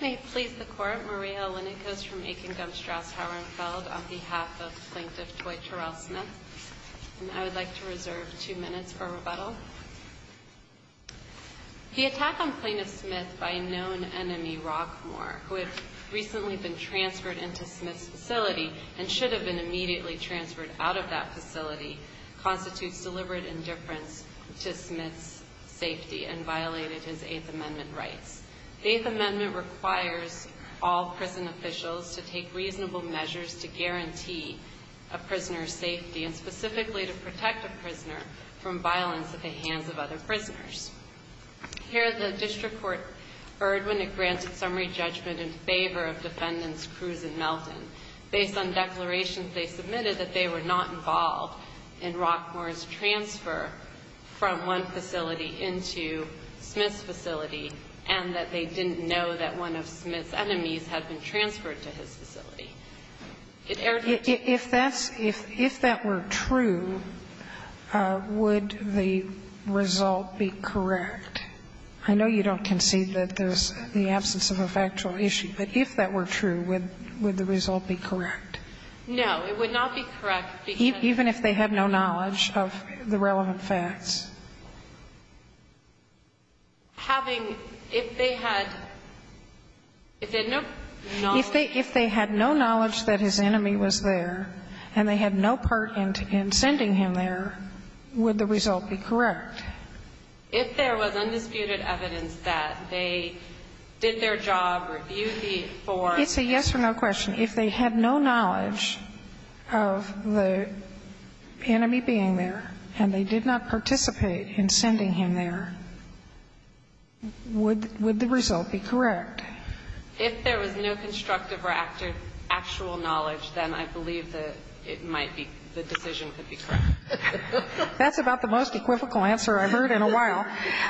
May it please the Court, Maria Alenikos from Aiken-Gumstrasse-Hauernfeld on behalf of Plaintiff Toy Terrell Smith, and I would like to reserve two minutes for rebuttal. The attack on Plaintiff Smith by a known enemy, Rockmore, who had recently been transferred into Smith's facility and should have been immediately transferred out of that facility, constitutes deliberate indifference to Smith's safety and violated his Eighth Amendment rights. The Eighth Amendment requires all prison officials to take reasonable measures to guarantee a prisoner's safety, and specifically to protect a prisoner from violence at the hands of other prisoners. Here, the district court erred when it granted summary judgment in favor of Defendants Cruse and Melton, based on declarations they submitted that they were not involved in Rockmore's transfer from one facility into Smith's facility, and that they didn't know that one of Smith's enemies had been transferred to his facility. It erred in two ways. If that were true, would the result be correct? I know you don't concede that there's the absence of a factual issue, but if that were true, would the result be correct? No, it would not be correct, because Even if they had no knowledge of the relevant facts? Having, if they had, if they had no knowledge that his enemy was there, and they had no part in sending him there, would the result be correct? If there was undisputed evidence that they did their job, reviewed the four, and they It's a yes-or-no question. If they had no knowledge of the enemy being there, and they did not participate in sending him there, would the result be correct? If there was no constructive or actual knowledge, then I believe that it might be, the decision could be correct. That's about the most equivocal answer I've heard in a while.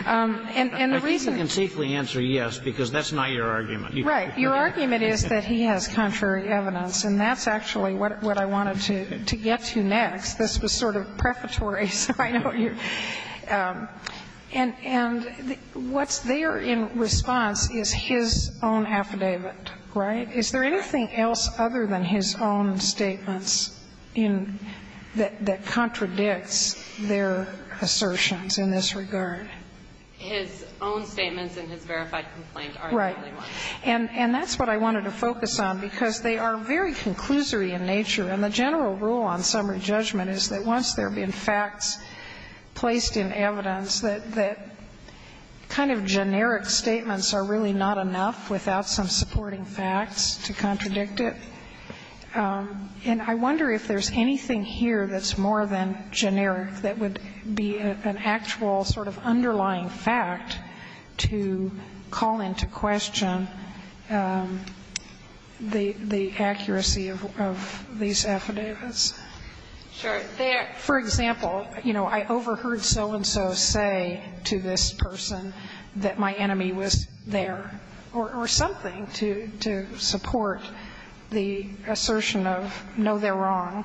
And the reason I think you can safely answer yes, because that's not your argument. Right. Your argument is that he has contrary evidence, and that's actually what I wanted to get to next. This was sort of prefatory, so I know you're And what's there in response is his own affidavit, right? Is there anything else other than his own statements in the, that contradicts their assertions in this regard? His own statements in his verified complaint are the only ones. Right. And that's what I wanted to focus on, because they are very conclusory in nature. And the general rule on summary judgment is that once there have been facts placed in evidence, that kind of generic statements are really not enough without some supporting facts to contradict it. And I wonder if there's anything here that's more than generic that would be an actual sort of underlying fact to call into question the accuracy of these statements. I'm not sure if there's anything here that's more than generic that would be an actual underlying fact to call into question the accuracy of these affidavits. Sure. For example, you know, I overheard so-and-so say to this person that my enemy was there, or something, to support the assertion of, no, they're wrong.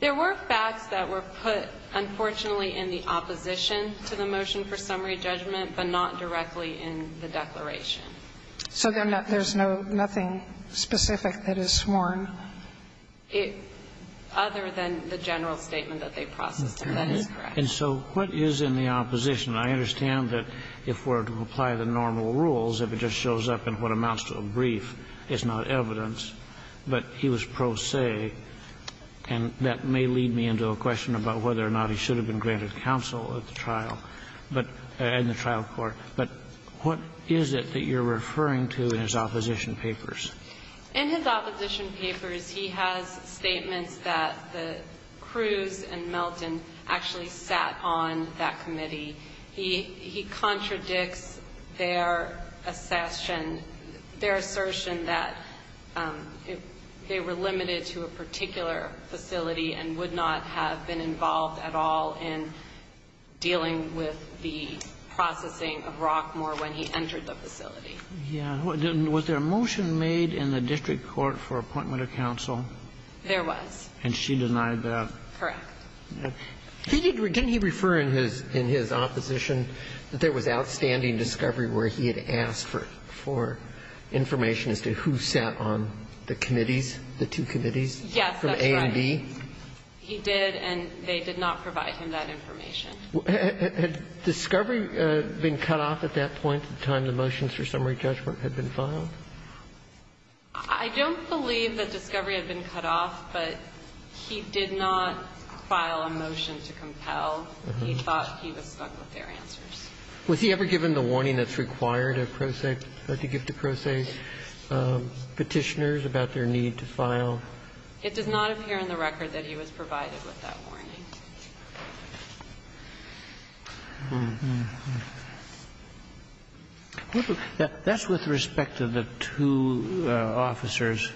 There were facts that were put, unfortunately, in the opposition to the motion for summary judgment, but not directly in the declaration. So there's nothing specific that is sworn? Other than the general statement that they processed in evidence, correct. And so what is in the opposition? I understand that if we're to apply the normal rules, if it just shows up in what amounts to a brief, it's not evidence. But he was pro se, and that may lead me into a question about whether or not he should have been granted counsel at the trial, but at the trial court. But what is it that you're referring to in his opposition papers? In his opposition papers, he has statements that the Cruz and Melton actually sat on that committee. He contradicts their assertion that they were limited to a particular facility and would not have been involved at all in dealing with the processing of Rockmore when he entered the facility. Yeah. Was there a motion made in the district court for appointment of counsel? There was. And she denied that? Correct. Didn't he refer in his opposition that there was outstanding discovery where he had asked for information as to who sat on the committees, the two committees? Yes, that's right. From A and B? He did, and they did not provide him that information. Had discovery been cut off at that point, the time the motions for summary judgment had been filed? I don't believe that discovery had been cut off, but he did not file a motion to compel. He thought he was stuck with their answers. Was he ever given the warning that's required at pro se, to give to pro se Petitioners about their need to file? It does not appear in the record that he was provided with that warning. That's with respect to the two officers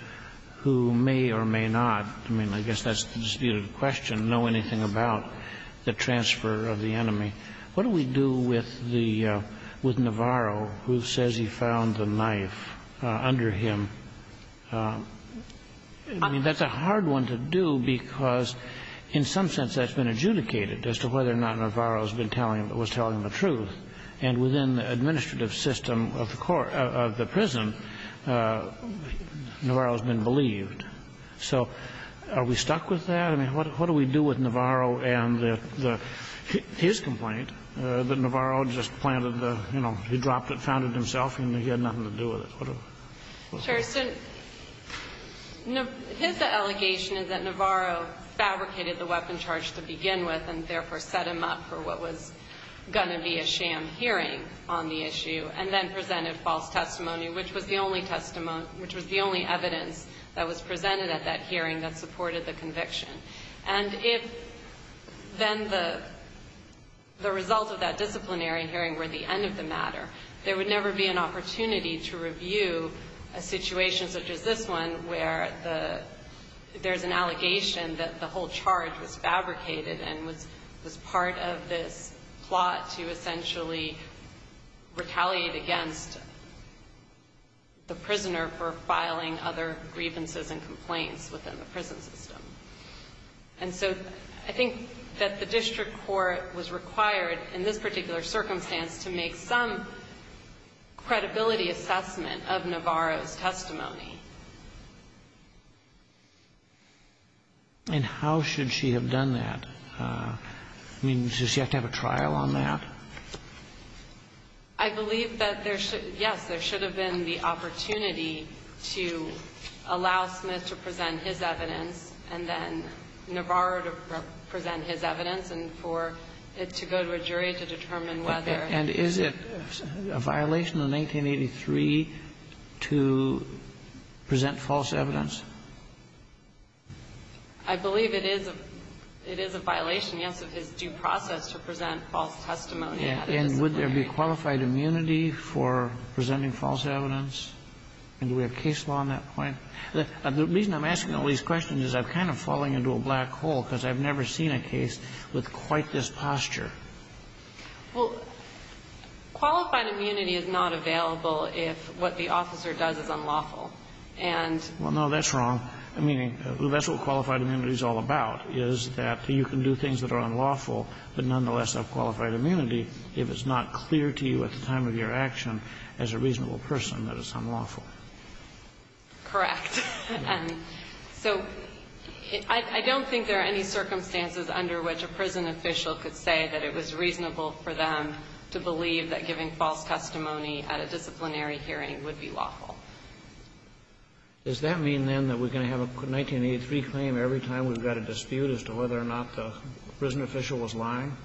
who may or may not, I mean, I guess that's the disputed question, know anything about the transfer of the enemy. What do we do with the — with Navarro, who says he found the knife under him? I mean, that's a hard one to do, because in some sense that's been adjudicated as to whether or not Navarro has been telling him, was telling the truth. And within the administrative system of the court — of the prison, Navarro has been believed. So are we stuck with that? I mean, what do we do with Navarro and the — his complaint that Navarro just planted the, you know, he dropped it, found it himself, and he had nothing to do with it? What do we do with it? Sir, so his allegation is that Navarro fabricated the weapon charge to begin with and therefore set him up for what was going to be a sham hearing on the issue, and then presented false testimony, which was the only testimony — which was the only evidence that was presented at that hearing that supported the conviction. And if then the result of that disciplinary hearing were the end of the matter, there would never be an opportunity to review a situation such as this one where the — there's an allegation that the whole charge was fabricated and was part of this plot to essentially retaliate against the prisoner for filing other grievances and complaints within the prison system. And so I think that the district court was required in this particular circumstance to make some credibility assessment of Navarro's testimony. And how should she have done that? I mean, does she have to have a trial on that? I believe that there should — yes, there should have been the opportunity to allow Smith to present his evidence and then Navarro to present his evidence and for — to go to a jury to determine whether — And is it a violation of 1983 to present false evidence? I believe it is a — it is a violation, yes, of his due process to present false testimony at a disciplinary hearing. And would there be qualified immunity for presenting false evidence? And do we have case law on that point? The reason I'm asking all these questions is I'm kind of falling into a black hole, because I've never seen a case with quite this posture. Well, qualified immunity is not available if what the officer does is unlawful. And — Well, no, that's wrong. I mean, that's what qualified immunity is all about, is that you can do things that are unlawful but nonetheless have qualified immunity if it's not clear to you at the time of your action as a reasonable person that it's unlawful. Correct. And so I don't think there are any circumstances under which a prison official could say that it was reasonable for them to believe that giving false testimony at a disciplinary hearing would be lawful. Does that mean, then, that we're going to have a 1983 claim every time we've got a dispute as to whether or not the prison official was lying?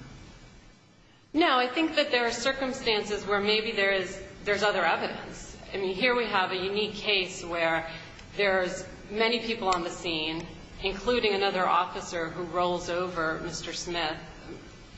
No. I think that there are circumstances where maybe there is — there's other evidence. I mean, here we have a unique case where there's many people on the scene, including another officer who rolls over Mr. Smith,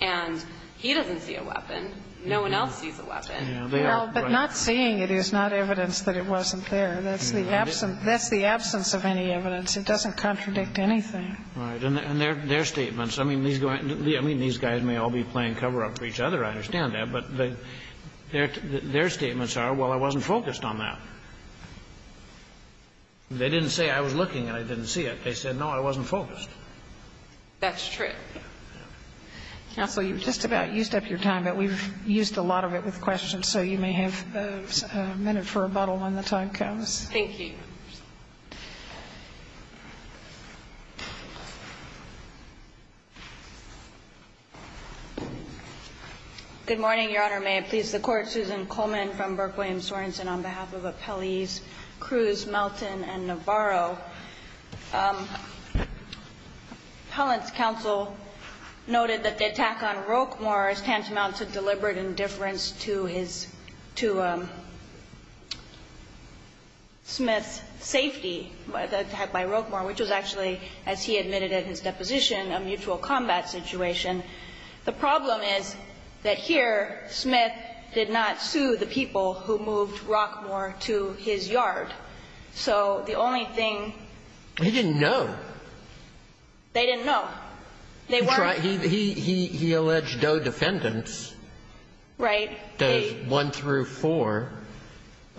and he doesn't see a weapon. No one else sees a weapon. Yeah, they are. Well, but not seeing it is not evidence that it wasn't there. That's the absence — that's the absence of any evidence. It doesn't contradict anything. Right. And their statements — I mean, these guys may all be playing cover-up for each other, I understand that. But their statements are, well, I wasn't focused on that. They didn't say I was looking and I didn't see it. They said, no, I wasn't focused. That's true. Counsel, you've just about used up your time, but we've used a lot of it with questions, so you may have a minute for rebuttal when the time comes. Thank you. Good morning, Your Honor. May it please the Court. Susan Coleman from Burke Williams Sorensen on behalf of Appellees Cruz, Melton, and Navarro. Appellant's counsel noted that the attack on Roquemore is tantamount to deliberate indifference to his — to Smith's safety, the attack by Roquemore, which was actually, as he admitted in his deposition, a mutual combat situation. The problem is that here, Smith did not sue the people who moved Roquemore to his yard. So the only thing — He didn't know. They didn't know. They weren't — He alleged no defendants, does one through four,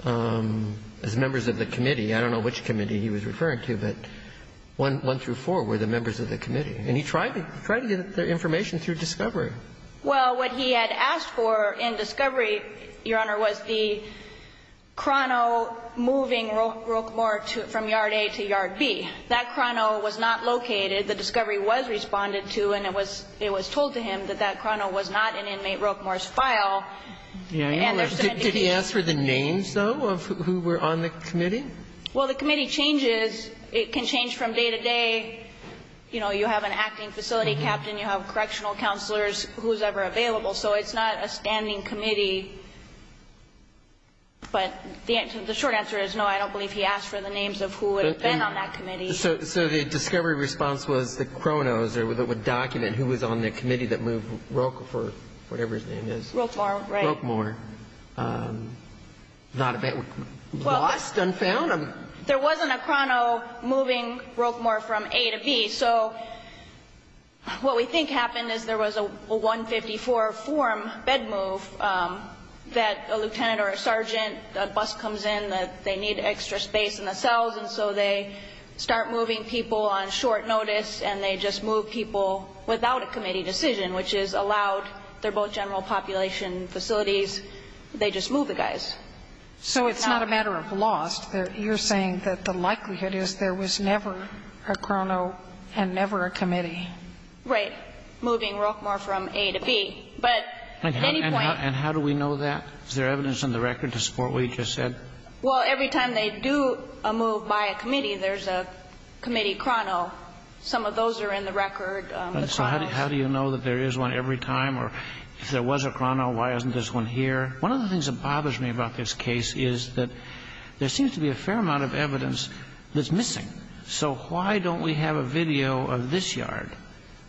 as members of the committee. I don't know which committee he was referring to, but one through four were the members of the committee. And he tried to get their information through discovery. Well, what he had asked for in discovery, Your Honor, was the chrono moving Roquemore from yard A to yard B. That chrono was not located. The discovery was responded to, and it was told to him that that chrono was not in inmate Roquemore's file. And there's some indication of that. Did he ask for the names, though, of who were on the committee? Well, the committee changes. It can change from day to day. You know, you have an acting facility captain, you have correctional counselors, who's ever available. So it's not a standing committee. But the short answer is, no, I don't believe he asked for the names of who would have been on that committee. So the discovery response was the chronos, or the document, who was on the committee that moved Roque for whatever his name is. Roquemore, right. Roquemore. Lost and found? There wasn't a chrono moving Roquemore from A to B. So what we think happened is there was a 154-form bed move that a lieutenant or a sergeant, a bus comes in, that they need extra space in the cells. And so they start moving people on short notice. And they just move people without a committee decision, which is allowed. They're both general population facilities. They just move the guys. So it's not a matter of lost. You're saying that the likelihood is there was never a chrono and never a committee. Right. Moving Roquemore from A to B. But at any point And how do we know that? Is there evidence on the record to support what you just said? Well, every time they do a move by a committee, there's a committee chrono. Some of those are in the record. So how do you know that there is one every time? Or if there was a chrono, why isn't this one here? One of the things that bothers me about this case is that there seems to be a fair amount of evidence that's missing. So why don't we have a video of this yard?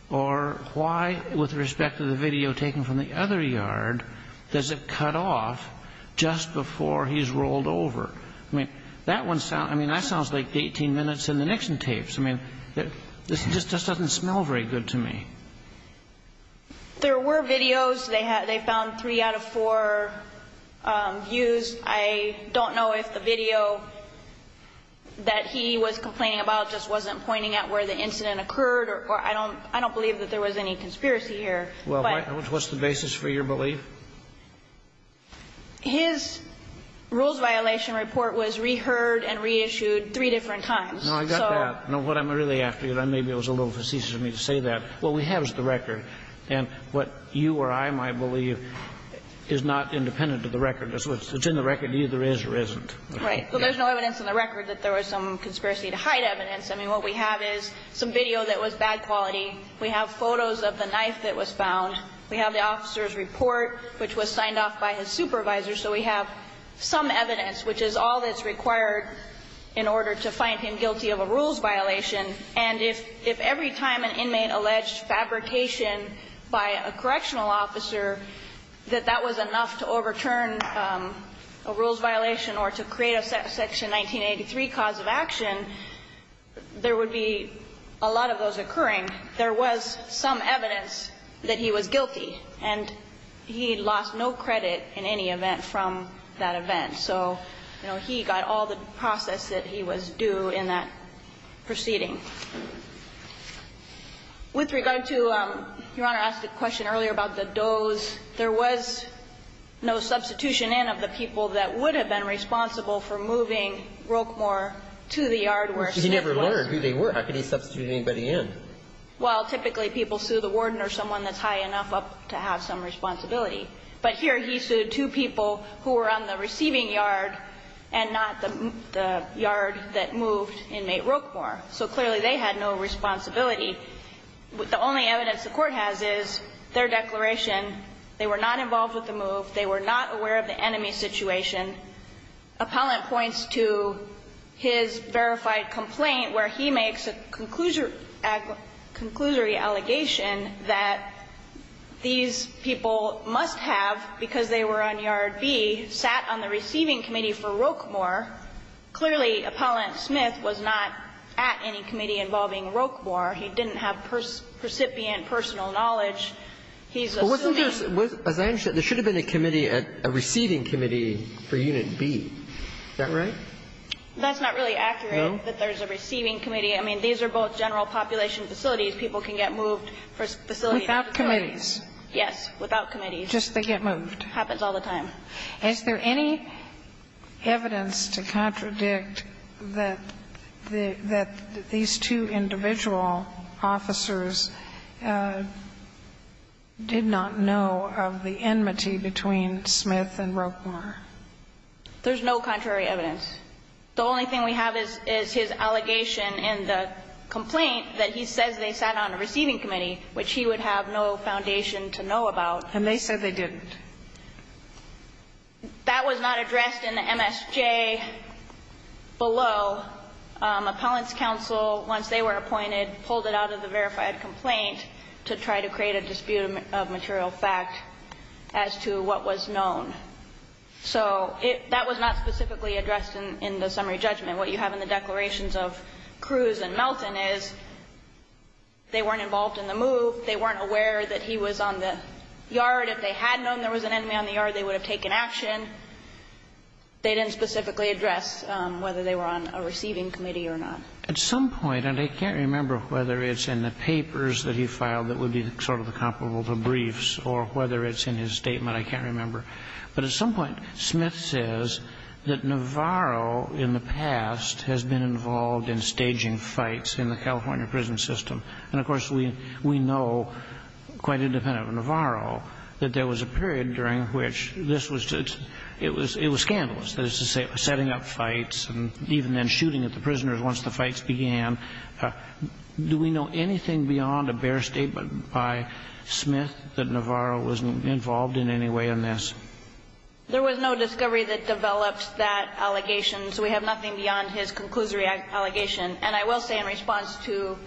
Or why, with respect to the video taken from the other yard, does it cut off just before he's rolled over? I mean, that one sounds like 18 minutes in the Nixon tapes. I mean, this just doesn't smell very good to me. There were videos. They found three out of four views. I don't know if the video that he was complaining about just wasn't pointing at where the incident occurred, or I don't believe that there was any conspiracy here. Well, what's the basis for your belief? His rules violation report was reheard and reissued three different times. No, I got that. No, what I'm really after, and maybe it was a little facetious of me to say that, what we have is the record. And what you or I might believe is not independent of the record. It's in the record. It either is or isn't. Right. But there's no evidence in the record that there was some conspiracy to hide evidence. I mean, what we have is some video that was bad quality. We have photos of the knife that was found. We have the officer's report, which was signed off by his supervisor. So we have some evidence, which is all that's required in order to find him guilty of a rules violation. And if every time an inmate alleged fabrication by a correctional officer, that that was enough to overturn a rules violation or to create a section 1983 cause of action, there would be a lot of those occurring. There was some evidence that he was guilty, and he lost no credit in any event from that event. So, you know, he got all the process that he was due in that proceeding. With regard to, Your Honor asked a question earlier about the does, there was no substitution in of the people that would have been responsible for moving Roquemore to the yard where Smith was. He never learned who they were. How could he substitute anybody in? Well, typically people sue the warden or someone that's high enough up to have some responsibility. But here he sued two people who were on the receiving yard and not the yard that moved inmate Roquemore. So clearly they had no responsibility. But the only evidence the court has is their declaration. They were not involved with the move. They were not aware of the enemy's situation. Appellant points to his verified complaint where he makes a conclusion or a conclusory allegation that these people must have, because they were on yard B, sat on the receiving committee for Roquemore. Clearly, Appellant Smith was not at any committee involving Roquemore. He didn't have percipient personal knowledge. He's a suitor. But wasn't there, as I understand it, there should have been a committee, a receiving committee for unit B. Is that right? That's not really accurate that there's a receiving committee. I mean, these are both general population facilities. People can get moved for facilities. Without committees. Yes, without committees. Just they get moved. Happens all the time. Is there any evidence to contradict that these two individual officers did not know of the enmity between Smith and Roquemore? There's no contrary evidence. The only thing we have is his allegation in the complaint that he says they sat on a receiving committee, which he would have no foundation to know about. And they said they didn't. That was not addressed in the MSJ below. Appellant's counsel, once they were appointed, pulled it out of the verified complaint to try to create a dispute of material fact as to what was known. So that was not specifically addressed in the summary judgment. What you have in the declarations of Cruz and Melton is they weren't involved in the move. They weren't aware that he was on the yard. If they had known there was an enemy on the yard, they would have taken action. They didn't specifically address whether they were on a receiving committee or not. At some point, and I can't remember whether it's in the papers that he filed that would be sort of comparable to briefs or whether it's in his statement, I can't remember, but at some point Smith says that Navarro, in the past, has been involved in staging fights in the California prison system. And, of course, we know, quite independent of Navarro, that there was a period during which this was just – it was scandalous, that is to say, setting up fights and even then shooting at the prisoners once the fights began. Do we know anything beyond a bare statement by Smith that Navarro wasn't involved in any way in this? There was no discovery that developed that allegation, so we have nothing beyond his conclusory allegation. And I will say in response to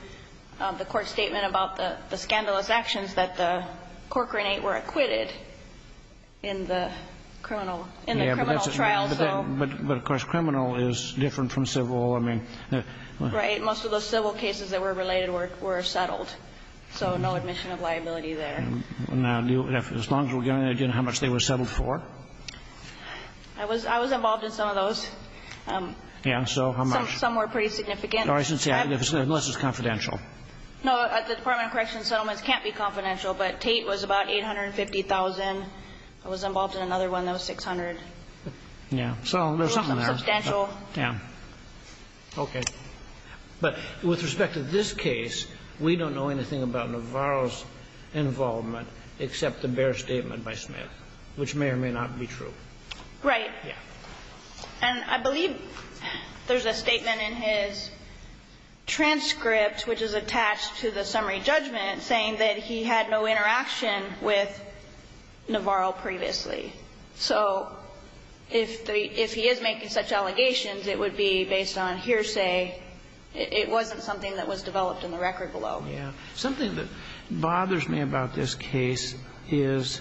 the Court's statement about the scandalous actions that the Corcoran Eight were acquitted in the criminal – in the criminal trial, so – But, of course, criminal is different from civil. I mean – Right. Most of those civil cases that were related were settled. So no admission of liability there. Now, as long as we're getting an idea of how much they were settled for? I was – I was involved in some of those. Yeah, so how much? Some were pretty significant. No, I shouldn't say – unless it's confidential. No, the Department of Corrections settlements can't be confidential, but Tate was about $850,000. I was involved in another one that was $600,000. Yeah, so there's something there. Substantial. Yeah. Okay. But with respect to this case, we don't know anything about Navarro's involvement except the bare statement by Smith, which may or may not be true. Right. Yeah. And I believe there's a statement in his transcript, which is attached to the summary judgment, saying that he had no interaction with Navarro previously. So if the – if he is making such allegations, it would be based on hearsay. It wasn't something that was developed in the record below. Yeah. Something that bothers me about this case is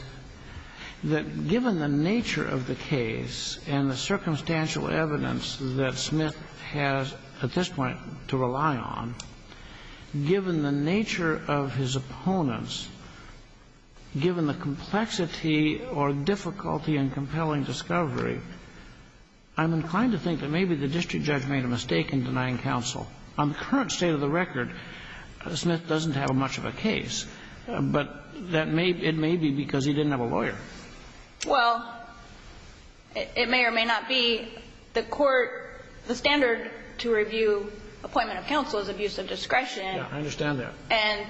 that given the nature of the case and the circumstantial evidence that Smith has, at this point, to rely on, given the nature of his opponents, given the complexity or difficulty in compelling discovery, I'm inclined to think that maybe the district judge made a mistake in denying counsel. On the current state of the record, Smith doesn't have much of a case, but that may – it may be because he didn't have a lawyer. Well, it may or may not be. The court – the standard to review appointment of counsel is abuse of discretion. Yeah. I understand that. And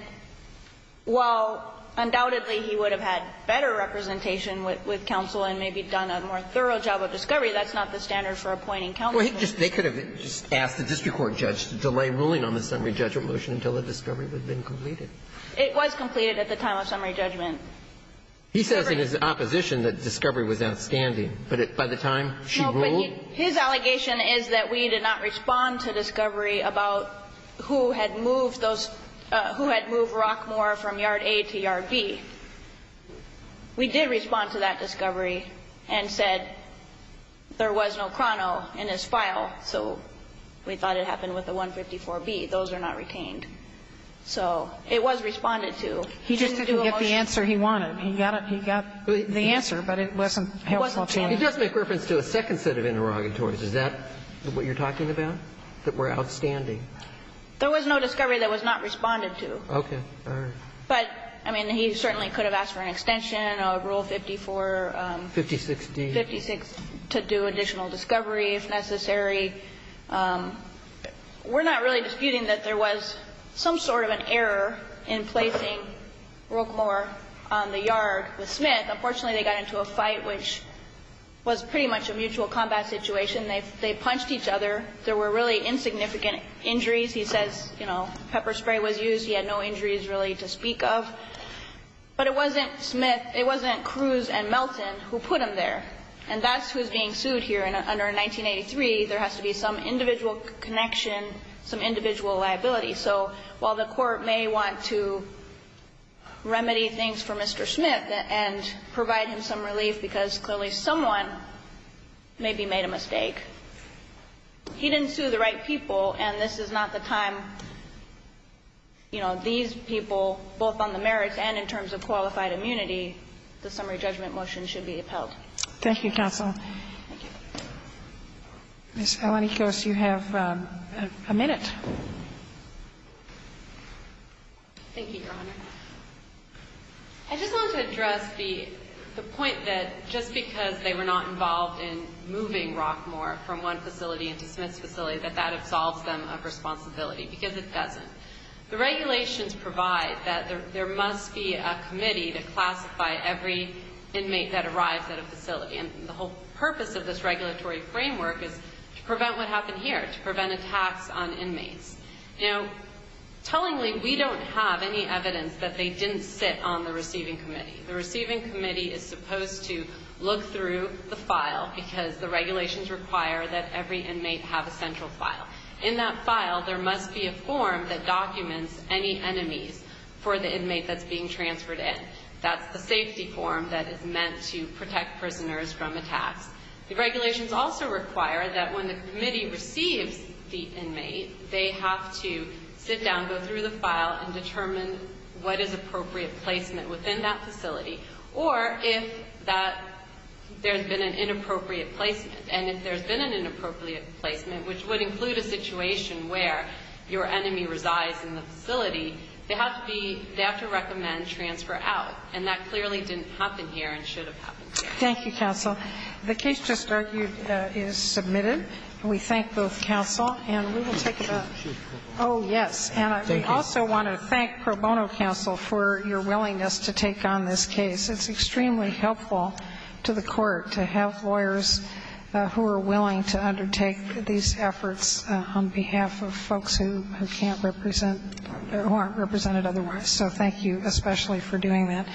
while undoubtedly he would have had better representation with counsel and maybe done a more thorough job of discovery, that's not the standard for appointing counsel. Well, he just – they could have just asked the district court judge to delay ruling on the summary judgment motion until the discovery had been completed. It was completed at the time of summary judgment. He says in his opposition that discovery was outstanding, but by the time she ruled No, but his allegation is that we did not respond to discovery about who had moved those – who had moved Rockmore from yard A to yard B. We did respond to that discovery and said there was no Crono in his file, so we thought it happened with the 154B. Those are not retained. So it was responded to. He just didn't get the answer he wanted. He got the answer, but it wasn't helpful to him. He does make reference to a second set of interrogatories. Is that what you're talking about, that were outstanding? There was no discovery that was not responded to. Okay. All right. But, I mean, he certainly could have asked for an extension, a Rule 54. 56D. 56 to do additional discovery if necessary. We're not really disputing that there was some sort of an error in placing Rockmore on the yard with Smith. Unfortunately, they got into a fight which was pretty much a mutual combat situation. They punched each other. There were really insignificant injuries. He says, you know, pepper spray was used. He had no injuries really to speak of. But it wasn't Smith, it wasn't Cruz and Melton who put him there. And that's who's being sued here. And under 1983, there has to be some individual connection, some individual liability. So while the Court may want to remedy things for Mr. Smith and provide him some relief because clearly someone maybe made a mistake. He didn't sue the right people, and this is not the time, you know, these people, both on the merits and in terms of qualified immunity, the summary judgment motion should be upheld. Thank you, counsel. Thank you. Ms. Alanikos, you have a minute. Thank you, Your Honor. I just want to address the point that just because they were not involved in moving Rockmore from one facility into Smith's facility, that that absolves them of responsibility, because it doesn't. The regulations provide that there must be a committee to classify every inmate that arrives at a facility. And the whole purpose of this regulatory framework is to prevent what happened here, to prevent attacks on inmates. Now, tellingly, we don't have any evidence that they didn't sit on the receiving committee. The receiving committee is supposed to look through the file because the regulations require that every inmate have a central file. In that file, there must be a form that documents any enemies for the inmate that's being transferred in. That's the safety form that is meant to protect prisoners from attacks. The regulations also require that when the committee receives the inmate, they have to sit down, go through the file, and determine what is appropriate placement within that facility, or if there's been an inappropriate placement. And if there's been an inappropriate placement, which would include a situation where your enemy resides in the facility, they have to recommend transfer out. And that clearly didn't happen here and should have happened here. Thank you, counsel. The case just argued is submitted. We thank both counsel, and we will take it up. Oh, yes. And I also want to thank Pro Bono counsel for your willingness to take on this case. It's extremely helpful to the Court to have lawyers who are willing to undertake these efforts on behalf of folks who can't represent, who aren't represented otherwise. So thank you especially for doing that.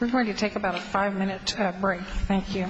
We're going to take about a five-minute break. Thank you.